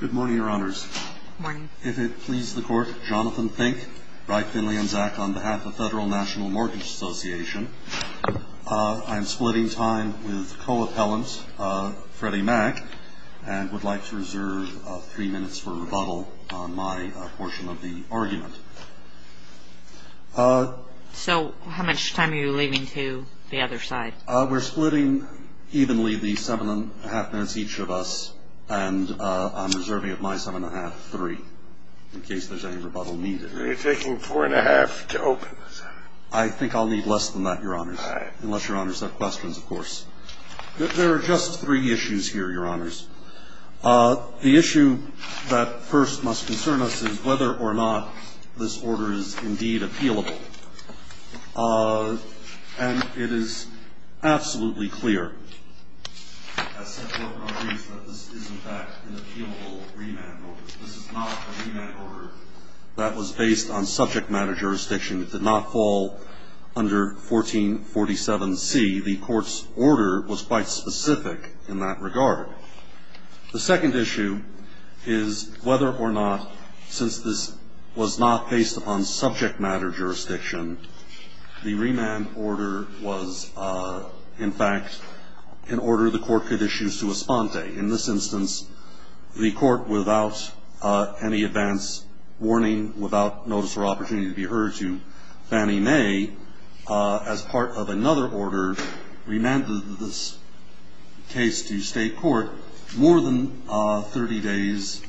Good morning, Your Honors. If it pleases the Court, Jonathan Fink, Wright, Finley, and Zak, on behalf of the Federal National Mortgage Association, I'm splitting time with co-appellant Freddie Mack, and would like to reserve three minutes for rebuttal on my portion of the argument. So, how much time are you leaving to the other side? We're splitting evenly the seven and a half minutes each of us, and I'm reserving of my seven and a half, three, in case there's any rebuttal needed. You're taking four and a half to open, sir? I think I'll need less than that, Your Honors. All right. Unless Your Honors have questions, of course. There are just three issues here, Your Honors. The issue that first must concern us is whether or not this order is indeed appealable. And it is absolutely clear, as set forth in our briefs, that this is, in fact, an appealable remand order. This is not a remand order that was based on subject matter jurisdiction. It did not fall under 1447C. The Court's order was quite specific in that regard. The second issue is whether or not, since this was not based upon subject matter jurisdiction, the remand order was, in fact, an order the Court could issue sua sponte. In this instance, the Court, without any advance warning, without notice or opportunity to be heard to, Fannie Mae, as part of another order, remanded this case to state court more than 30 days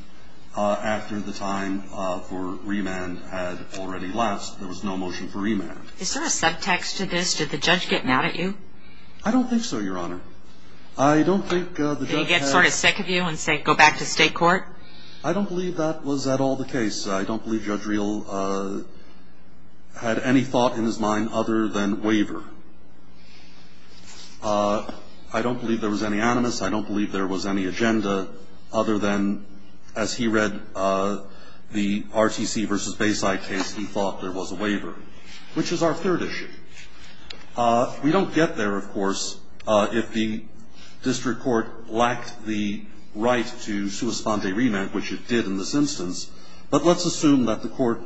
after the time for remand had already last. There was no motion for remand. Is there a subtext to this? Did the judge get mad at you? I don't think so, Your Honor. Did he get sort of sick of you and say, go back to state court? I don't believe that was at all the case. I don't believe Judge Reel had any thought in his mind other than waiver. I don't believe there was any animus. I don't believe there was any agenda other than, as he read the RTC v. Bayside case, he thought there was a waiver, which is our third issue. We don't get there, of course, if the district court lacked the right to sua sponte remand, which it did in this instance. But let's assume that the court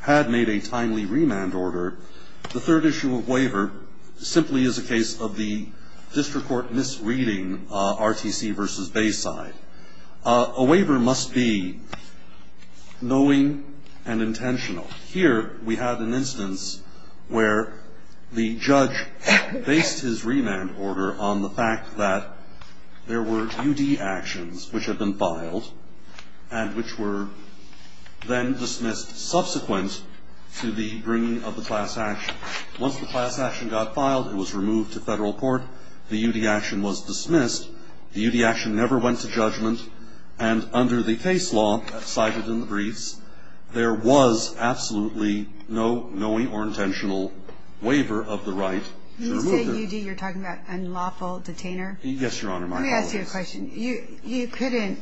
had made a timely remand order. The third issue of waiver simply is a case of the district court misreading RTC v. Bayside. A waiver must be knowing and intentional. Here we have an instance where the judge based his remand order on the fact that there were U.D. actions which had been filed and which were then dismissed subsequent to the bringing of the class action. Once the class action got filed, it was removed to federal court. The U.D. action was dismissed. The U.D. action never went to judgment. And under the case law cited in the briefs, there was absolutely no knowing or intentional waiver of the right to remove it. When you say U.D., you're talking about unlawful detainer? Yes, Your Honor, my apologies. Let me ask you a question. You couldn't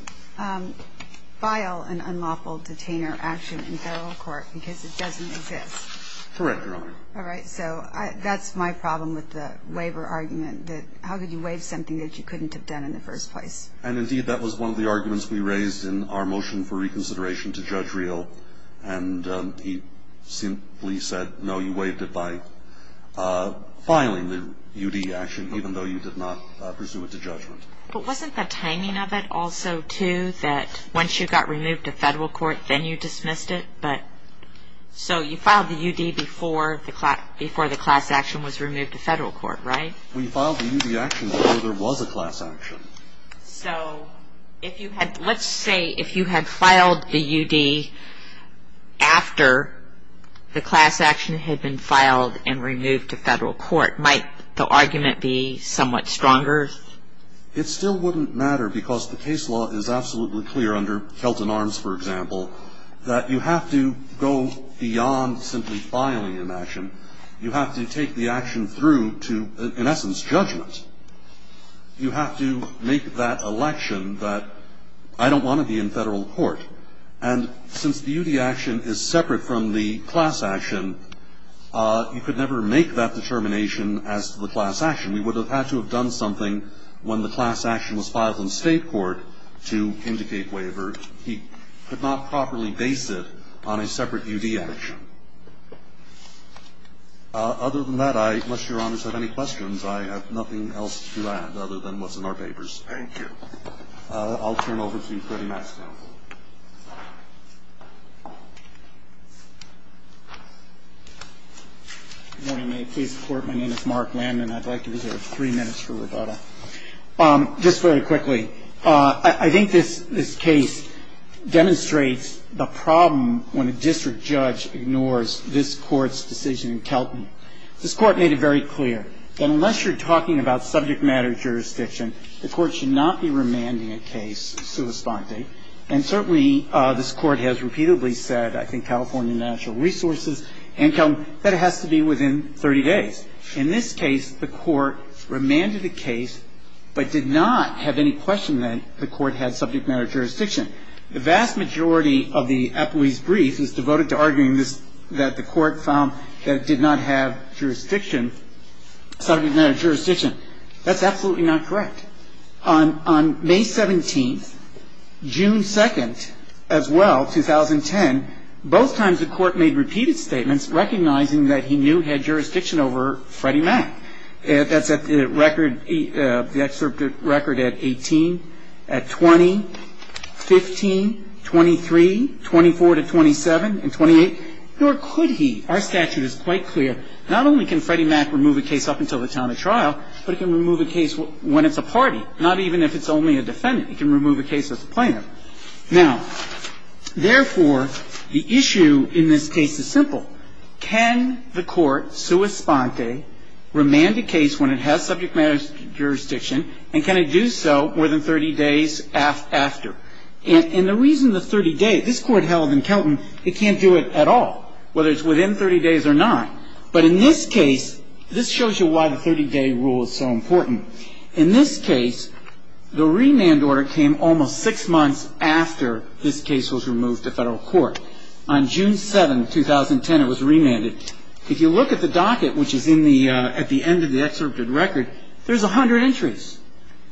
file an unlawful detainer action in federal court because it doesn't exist. Correct, Your Honor. All right. So that's my problem with the waiver argument, that how could you waive something that you couldn't have done in the first place? And, indeed, that was one of the arguments we raised in our motion for reconsideration to Judge Reel, and he simply said, no, you waived it by filing the U.D. action even though you did not pursue it to judgment. But wasn't the timing of it also, too, that once you got removed to federal court, then you dismissed it? So you filed the U.D. before the class action was removed to federal court, right? We filed the U.D. action before there was a class action. So let's say if you had filed the U.D. after the class action had been filed and removed to federal court, might the argument be somewhat stronger? It still wouldn't matter because the case law is absolutely clear under Kelton Arms, for example, that you have to go beyond simply filing an action. You have to take the action through to, in essence, judgment. You have to make that election that I don't want to be in federal court. And since the U.D. action is separate from the class action, you could never make that determination as to the class action. We would have had to have done something when the class action was filed in state court to indicate waiver. He could not properly base it on a separate U.D. action. Other than that, I, unless Your Honors have any questions, I have nothing else to add other than what's in our papers. Thank you. I'll turn it over to Freddie Maxfield. Good morning. May it please the Court. My name is Mark Landman. I'd like to reserve three minutes for rebuttal. Just very quickly, I think this case demonstrates the problem when a district judge ignores the court's decision in Kelton. This Court made it very clear that unless you're talking about subject matter jurisdiction, the Court should not be remanding a case sua sponte. And certainly this Court has repeatedly said, I think California National Resources and Kelton, that it has to be within 30 days. In this case, the Court remanded the case but did not have any question that the Court had subject matter jurisdiction. The vast majority of the appellee's brief is devoted to arguing that the Court found that it did not have jurisdiction, subject matter jurisdiction. That's absolutely not correct. On May 17th, June 2nd as well, 2010, both times the Court made repeated statements recognizing that he knew he had jurisdiction over Freddie Mac. That's at the record, the excerpt of record at 18, at 20, 15, 23, 24 to 27, and 28. Nor could he. Our statute is quite clear. Not only can Freddie Mac remove a case up until the time of trial, but it can remove a case when it's a party, not even if it's only a defendant. It can remove a case as a plaintiff. Now, therefore, the issue in this case is simple. Can the Court, sua sponte, remand a case when it has subject matter jurisdiction, and can it do so more than 30 days after? And the reason the 30 days, this Court held in Kelton it can't do it at all, whether it's within 30 days or not. But in this case, this shows you why the 30-day rule is so important. In this case, the remand order came almost six months after this case was removed to Federal court. On June 7, 2010, it was remanded. If you look at the docket, which is in the at the end of the excerpted record, there's 100 entries.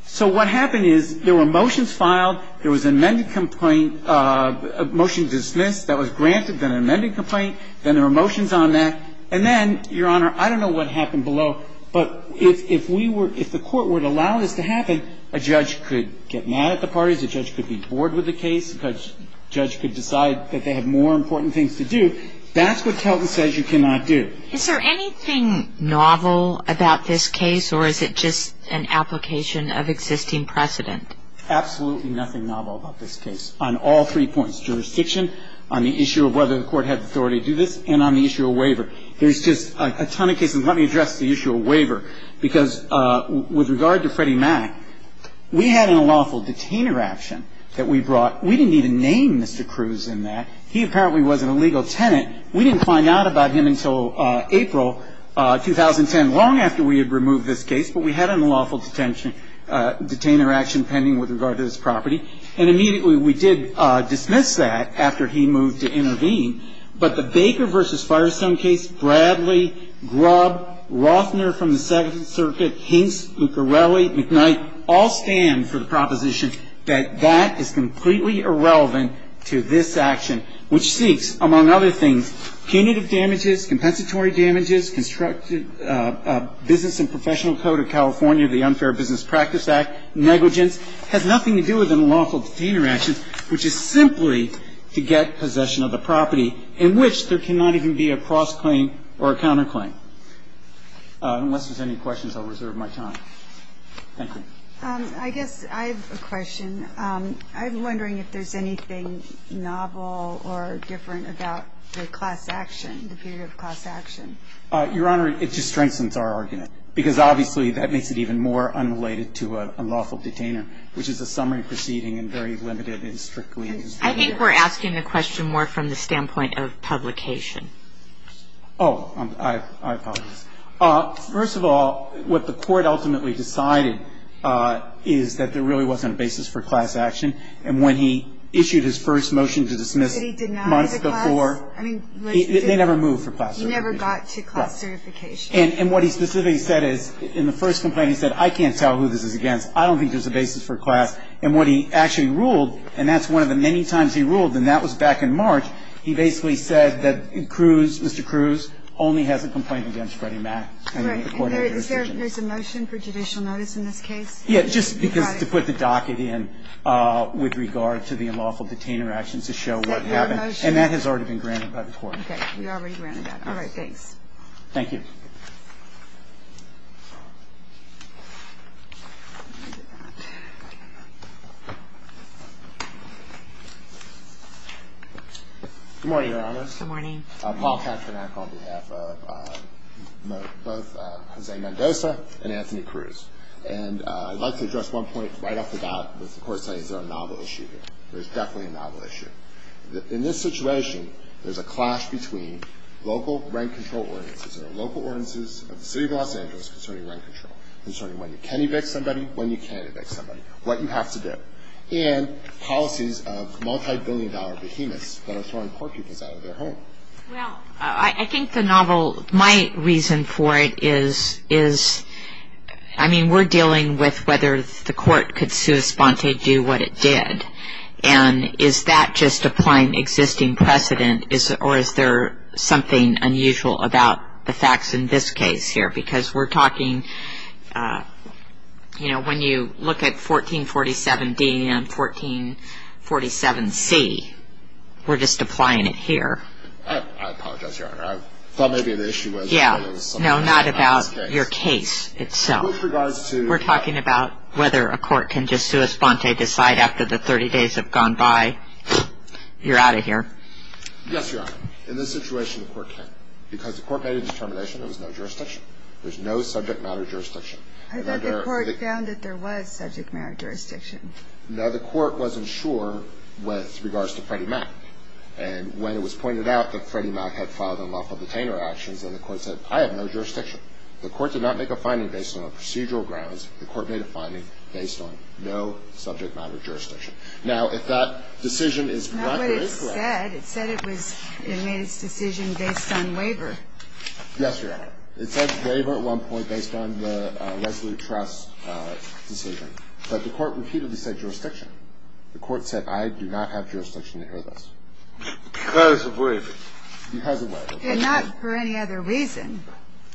So what happened is there were motions filed, there was an amended complaint, a motion to dismiss that was granted, then an amended complaint, then there were motions on that. And then, Your Honor, I don't know what happened below, but if we were, if the Court would allow this to happen, a judge could get mad at the parties, a judge could be bored with the case, a judge could decide that they have more important things to do. That's what Kelton says you cannot do. Is there anything novel about this case, or is it just an application of existing precedent? Absolutely nothing novel about this case on all three points, jurisdiction, on the issue of whether the Court had the authority to do this, and on the issue of waiver. There's just a ton of cases. Let me address the issue of waiver, because with regard to Freddie Mac, we had an unlawful detainer action that we brought. We didn't even name Mr. Cruz in that. He apparently was an illegal tenant. We didn't find out about him until April 2010, long after we had removed this case, but we had an unlawful detention, detainer action pending with regard to this property. And immediately we did dismiss that after he moved to intervene. But the Baker v. Firestone case, Bradley, Grubb, Rothner from the Second Circuit, Hinks, Luccarelli, McKnight, all stand for the proposition that that is completely irrelevant to this action, which seeks, among other things, punitive damages, compensatory damages, constructed business and professional code of California, negligence, has nothing to do with unlawful detainer actions, which is simply to get possession of the property, in which there cannot even be a cross-claim or a counter-claim. Unless there's any questions, I'll reserve my time. Thank you. I guess I have a question. I'm wondering if there's anything novel or different about the class action, the period of class action. Your Honor, it just strengthens our argument, because obviously that makes it even more unrelated to a lawful detainer, which is a summary proceeding and very limited and strictly. I think we're asking the question more from the standpoint of publication. Oh, I apologize. First of all, what the Court ultimately decided is that there really wasn't a basis for class action. And when he issued his first motion to dismiss months before. But he denied the class? They never moved for class certification. He never got to class certification. And what he specifically said is, in the first complaint, he said, I can't tell who this is against. I don't think there's a basis for class. And what he actually ruled, and that's one of the many times he ruled, and that was back in March, he basically said that Cruz, Mr. Cruz, only has a complaint against Freddie Mac. Right. Is there a motion for judicial notice in this case? Yes, just because to put the docket in with regard to the unlawful detainer actions to show what happened. And that has already been granted by the Court. We already granted that. Thanks. Thank you. Good morning, Your Honors. Good morning. Paul Katrinak on behalf of both Jose Mendoza and Anthony Cruz. And I'd like to address one point right off the bat with the Court saying there's a novel issue here. There's definitely a novel issue. In this situation, there's a clash between local rent control ordinances. There are local ordinances of the City of Los Angeles concerning rent control, concerning when you can evict somebody, when you can't evict somebody, what you have to do, and policies of multibillion-dollar behemoths that are throwing poor people out of their home. Well, I think the novel, my reason for it is, I mean, we're dealing with whether the Court could sui sponte do what it did. And is that just applying existing precedent, or is there something unusual about the facts in this case here? Because we're talking, you know, when you look at 1447D and 1447C, we're just applying it here. I apologize, Your Honor. I thought maybe the issue was something about this case. Yeah. No, not about your case itself. With regards to the... You're out of here. Yes, Your Honor. In this situation, the Court can't. Because the Court made a determination there was no jurisdiction. There's no subject matter jurisdiction. I thought the Court found that there was subject matter jurisdiction. No, the Court wasn't sure with regards to Freddie Mack. And when it was pointed out that Freddie Mack had filed unlawful detainer actions, then the Court said, I have no jurisdiction. The Court did not make a finding based on procedural grounds. The Court made a finding based on no subject matter jurisdiction. Now, if that decision is correct or incorrect... Not what it said. It said it made its decision based on waiver. Yes, Your Honor. It said waiver at one point based on the Resolute Trust decision. But the Court repeatedly said jurisdiction. The Court said, I do not have jurisdiction to hear this. Because of waiver. Because of waiver. And not for any other reason.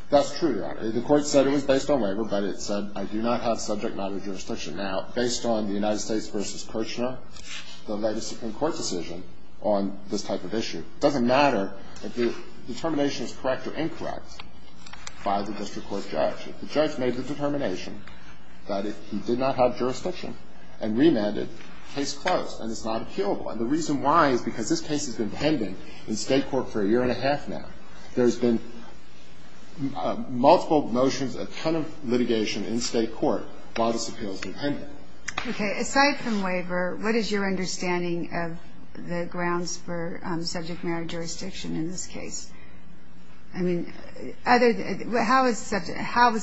That's true, Your Honor. The Court said it was based on waiver, but it said, I do not have subject matter jurisdiction. Now, based on the United States v. Kirchner, the legacy in court decision on this type of issue, it doesn't matter if the determination is correct or incorrect by the district court judge. If the judge made the determination that he did not have jurisdiction and remanded, case closed and it's not appealable. And the reason why is because this case has been pending in state court for a year and a half now. There's been multiple motions, a ton of litigation in state court, while this appeal has been pending. Okay. Aside from waiver, what is your understanding of the grounds for subject matter jurisdiction in this case? I mean, how was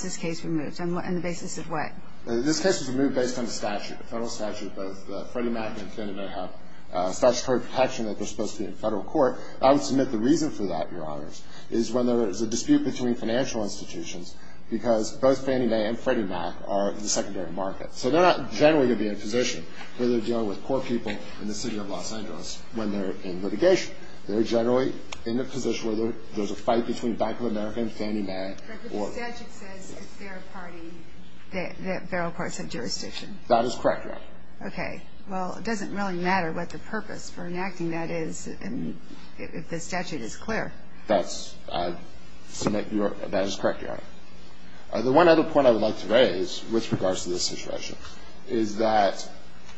this case removed? On the basis of what? This case was removed based on the statute, the federal statute. Both Freddie Mac and Kennedy may have statutory protection that they're supposed to be in federal court. I would submit the reason for that, Your Honors, is when there is a dispute between financial institutions, because both Fannie Mae and Freddie Mac are in the secondary markets. So they're not generally going to be in a position where they're dealing with poor people in the city of Los Angeles when they're in litigation. They're generally in a position where there's a fight between Bank of America and Fannie Mae. But the statute says it's their party, that federal courts have jurisdiction. That is correct, Your Honor. Okay. Well, it doesn't really matter what the purpose for enacting that is if the statute is clear. That is correct, Your Honor. The one other point I would like to raise with regards to this situation is that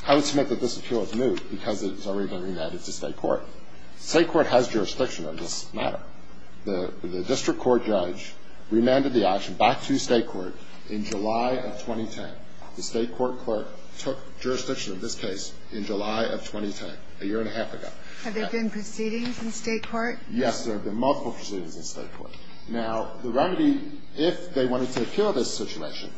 I would submit that this appeal is new because it's already been remanded to State court. State court has jurisdiction on this matter. The district court judge remanded the action back to State court in July of 2010. The State court clerk took jurisdiction of this case in July of 2010, a year and a half ago. Have there been proceedings in State court? Yes, there have been multiple proceedings in State court. Now, the remedy, if they wanted to appeal this situation,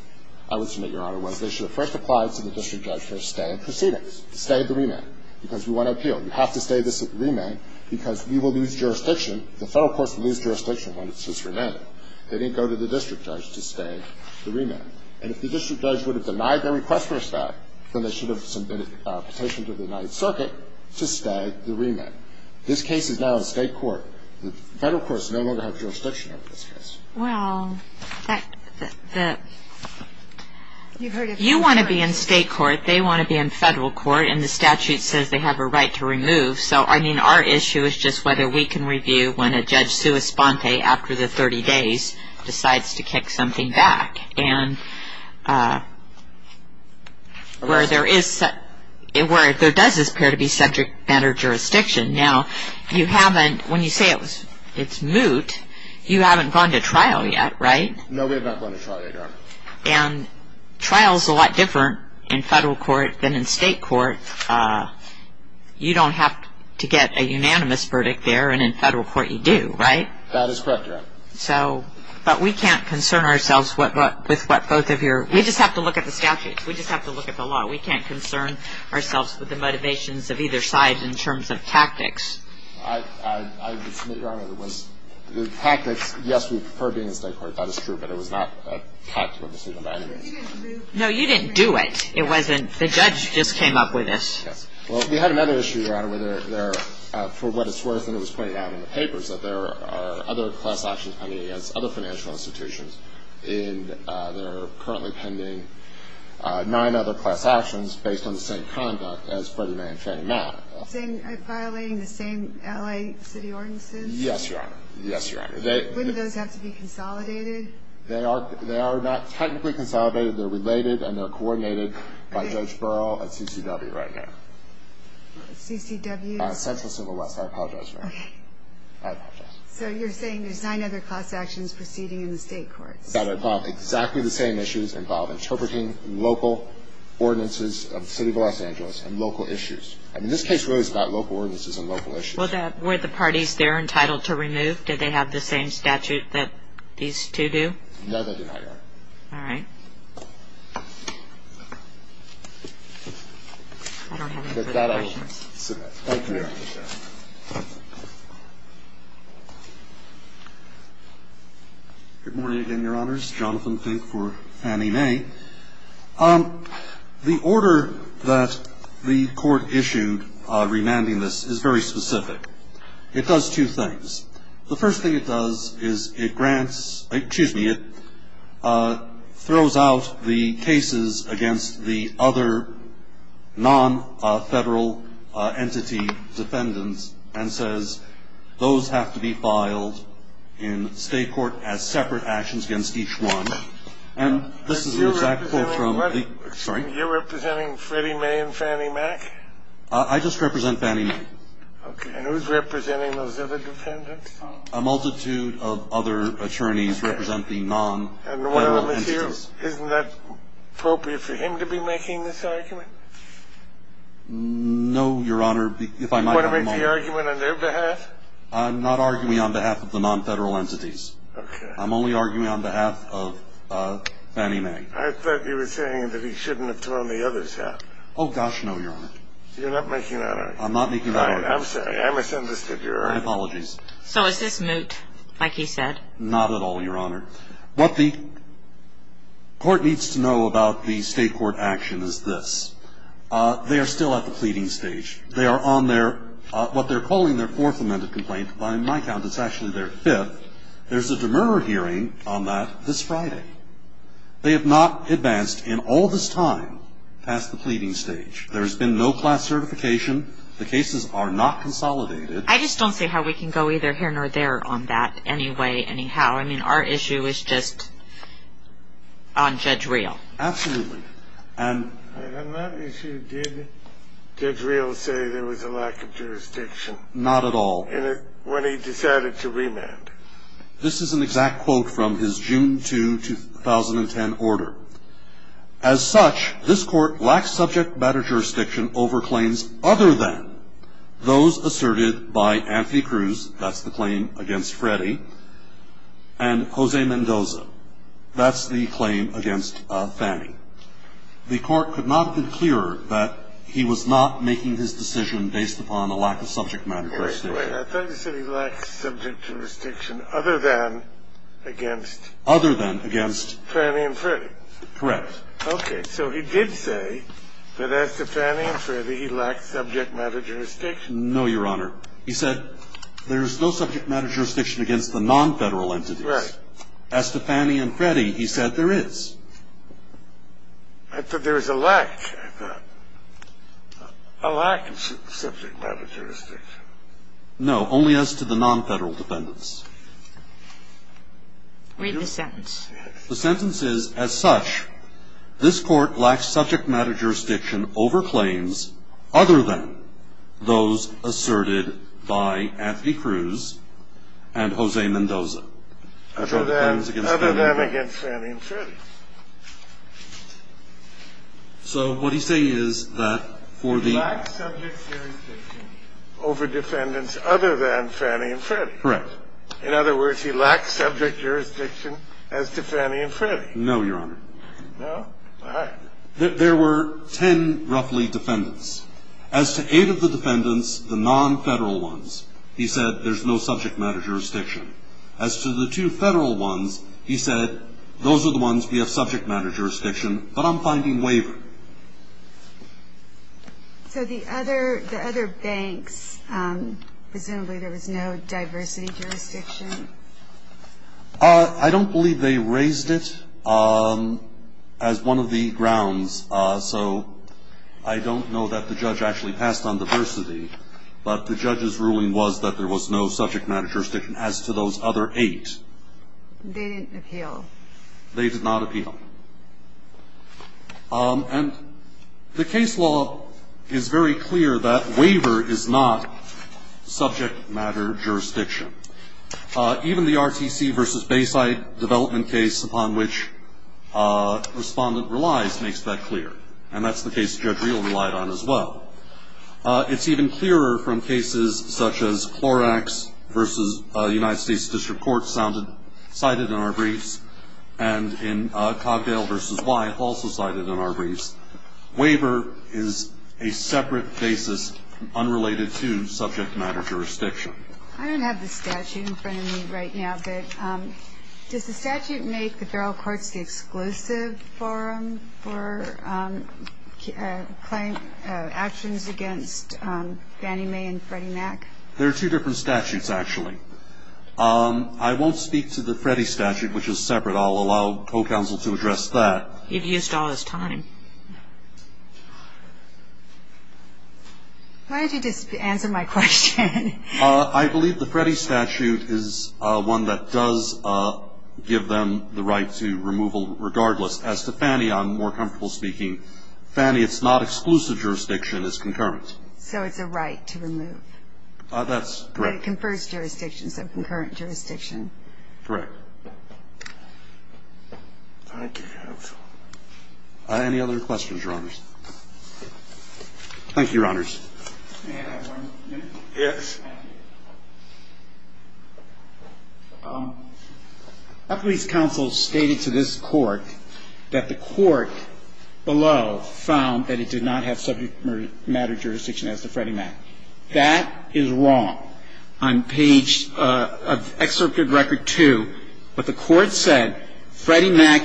I would submit, Your Honor, was they should have first applied to the district judge for a stay in proceedings, stay the remand, because we want to appeal. You have to stay the remand because we will lose jurisdiction, the federal courts will lose jurisdiction when it's just remanded. They didn't go to the district judge to stay the remand. And if the district judge would have denied their request for a stay, then they should have submitted a petition to the United Circuit to stay the remand. This case is now in State court. The federal courts no longer have jurisdiction over this case. Well, you heard a few words. You want to be in State court, they want to be in federal court, and the statute says they have a right to remove. So, I mean, our issue is just whether we can review when a judge sua sponte after the 30 days decides to kick something back. And where there is, where there does appear to be subject matter jurisdiction. Now, you haven't, when you say it's moot, you haven't gone to trial yet, right? No, we have not gone to trial yet, Your Honor. And trial is a lot different in federal court than in State court. You don't have to get a unanimous verdict there, and in federal court you do, right? That is correct, Your Honor. So, but we can't concern ourselves with what both of your, we just have to look at the statutes. We just have to look at the law. We can't concern ourselves with the motivations of either side in terms of tactics. I would submit, Your Honor, that the tactics, yes, we prefer being in State court. That is true. But it was not taught to us even by anybody. No, you didn't do it. It wasn't, the judge just came up with this. Yes. Well, we had another issue, Your Honor, where there, for what it's worth, and it was pointed out in the papers, that there are other class actions pending against other financial institutions, and there are currently pending nine other class actions based on the same conduct as Freddie Mae and Fannie Mae. Are they violating the same L.A. city ordinances? Yes, Your Honor. Yes, Your Honor. Wouldn't those have to be consolidated? They are not technically consolidated. They're related and they're coordinated by Judge Burrell at CCW right now. CCW? Central Civil West. I apologize, Your Honor. Okay. I apologize. So you're saying there's nine other class actions proceeding in the State courts. That involve exactly the same issues, involve interpreting local ordinances of the City of Los Angeles and local issues. I mean, this case really is about local ordinances and local issues. Well, were the parties there entitled to remove? Did they have the same statute that these two do? All right. I don't have any further questions. If not, I will submit. Thank you, Your Honor. Good morning again, Your Honors. Jonathan Fink for Fannie Mae. The order that the Court issued remanding this is very specific. It does two things. The first thing it does is it grants, excuse me, it throws out the cases against the other non-federal entity defendants and says, those have to be filed in State court as separate actions against each one. And this is the exact quote from the, sorry? You're representing Freddie Mae and Fannie Mae? I just represent Fannie Mae. Okay. And who's representing those other defendants? A multitude of other attorneys represent the non-federal entities. And isn't that appropriate for him to be making this argument? No, Your Honor. Do you want to make the argument on their behalf? I'm not arguing on behalf of the non-federal entities. Okay. I'm only arguing on behalf of Fannie Mae. I thought you were saying that he shouldn't have thrown the others out. Oh, gosh, no, Your Honor. You're not making that argument? I'm not making that argument. I'm sorry. I misunderstood, Your Honor. My apologies. So is this moot, like he said? Not at all, Your Honor. What the court needs to know about the State court action is this. They are still at the pleading stage. They are on their, what they're calling their fourth amended complaint. By my count, it's actually their fifth. There's a demerit hearing on that this Friday. They have not advanced in all this time past the pleading stage. There has been no class certification. The cases are not consolidated. I just don't see how we can go either here nor there on that anyway, anyhow. I mean, our issue is just on Judge Reel. Absolutely. And on that issue, did Judge Reel say there was a lack of jurisdiction? Not at all. When he decided to remand? This is an exact quote from his June 2, 2010 order. As such, this court lacks subject matter jurisdiction over claims other than those asserted by Anthony Cruz. That's the claim against Freddie and Jose Mendoza. That's the claim against Fannie. The court could not be clearer that he was not making his decision based upon a lack of subject matter jurisdiction. I thought you said he lacked subject matter jurisdiction other than against Fannie and Freddie. Correct. Okay, so he did say that as to Fannie and Freddie, he lacked subject matter jurisdiction. No, Your Honor. He said there's no subject matter jurisdiction against the non-federal entities. Right. As to Fannie and Freddie, he said there is. I thought there was a lack. A lack of subject matter jurisdiction. No, only as to the non-federal defendants. Read the sentence. The sentence is, as such, this court lacks subject matter jurisdiction over claims other than those asserted by Anthony Cruz and Jose Mendoza. Other than against Fannie and Freddie. So what he's saying is that for the... He lacks subject jurisdiction over defendants other than Fannie and Freddie. Correct. In other words, he lacks subject jurisdiction as to Fannie and Freddie. No, Your Honor. No? All right. There were ten, roughly, defendants. As to eight of the defendants, the non-federal ones, he said there's no subject matter jurisdiction. As to the two federal ones, he said those are the ones we have subject matter jurisdiction, but I'm finding waiver. So the other banks, presumably there was no diversity jurisdiction? I don't believe they raised it as one of the grounds. So I don't know that the judge actually passed on diversity, but the judge's ruling was that there was no subject matter jurisdiction as to those other eight. They didn't appeal. They did not appeal. And the case law is very clear that waiver is not subject matter jurisdiction. Even the RTC v. Bayside development case upon which Respondent relies makes that clear, and that's the case Judge Reel relied on as well. It's even clearer from cases such as Clorax v. United States District Court cited in our briefs and in Cogdale v. Wye also cited in our briefs. Waiver is a separate basis unrelated to subject matter jurisdiction. I don't have the statute in front of me right now, Does the statute make the federal courts the exclusive forum for actions against Fannie Mae and Freddie Mac? There are two different statutes, actually. I won't speak to the Freddie statute, which is separate. I'll allow co-counsel to address that. You've used all his time. Why don't you just answer my question? I believe the Freddie statute is one that does give them the right to removal regardless. As to Fannie, I'm more comfortable speaking. Fannie, it's not exclusive jurisdiction. It's concurrent. So it's a right to remove. That's correct. But it confers jurisdiction, so concurrent jurisdiction. Correct. Any other questions, Your Honors? Thank you, Your Honors. May I have one minute? Yes. A police counsel stated to this court that the court below found that it did not have subject matter jurisdiction as to Freddie Mac. That is wrong. On page of Excerpt of Record 2, what the court said, And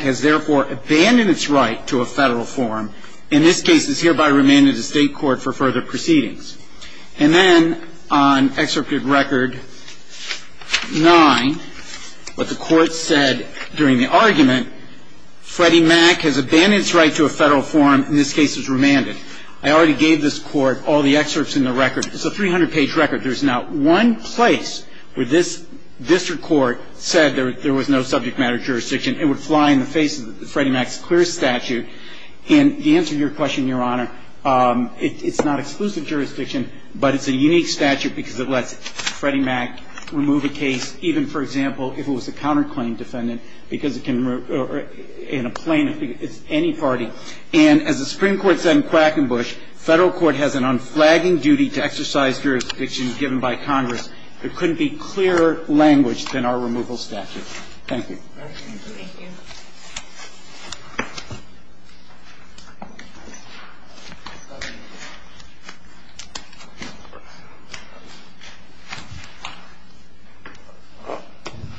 then on Excerpt of Record 9, what the court said during the argument, I already gave this court all the excerpts in the record. It's a 300-page record. There's not one place where this district court said there was no subject matter jurisdiction. It would fly in the face of Freddie Mac's clear statute. And to answer your question, Your Honor, it's not exclusive jurisdiction, but it's a unique statute because it lets Freddie Mac remove a case, even, for example, if it was a counterclaim defendant, because it can remove or in a plaintiff, any party. And as the Supreme Court said in Quackenbush, federal court has an unflagging duty to exercise jurisdictions given by Congress. There couldn't be clearer language than our removal statute. Thank you. Thank you.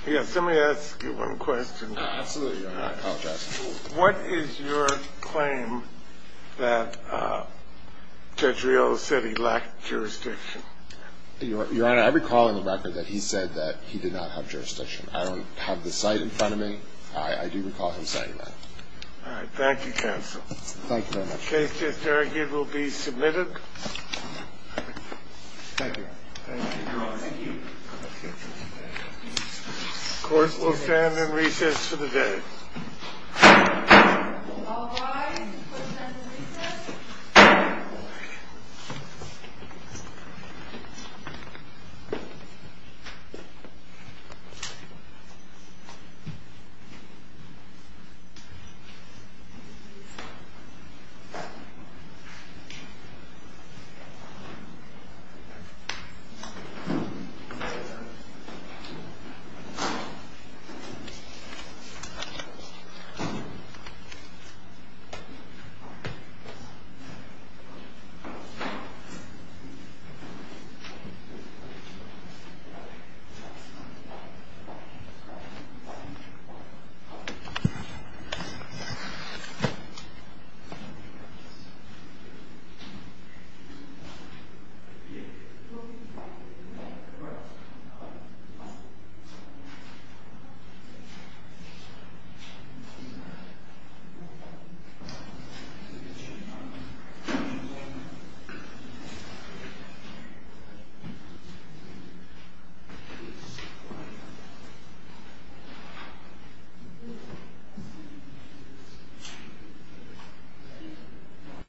Yes, let me ask you one question. Absolutely, Your Honor. I apologize. What is your claim that Judge Rios said he lacked jurisdiction? Your Honor, I recall in the record that he said that he did not have jurisdiction. I don't have the cite in front of me. I do recall him saying that. All right. Thank you, counsel. Thank you very much. The case, Judge Derrick, it will be submitted. Thank you. Thank you, Your Honor. Thank you. Of course, we'll stand in recess for the day. All rise. We'll stand in recess. We'll stand in recess. Thank you. Thank you.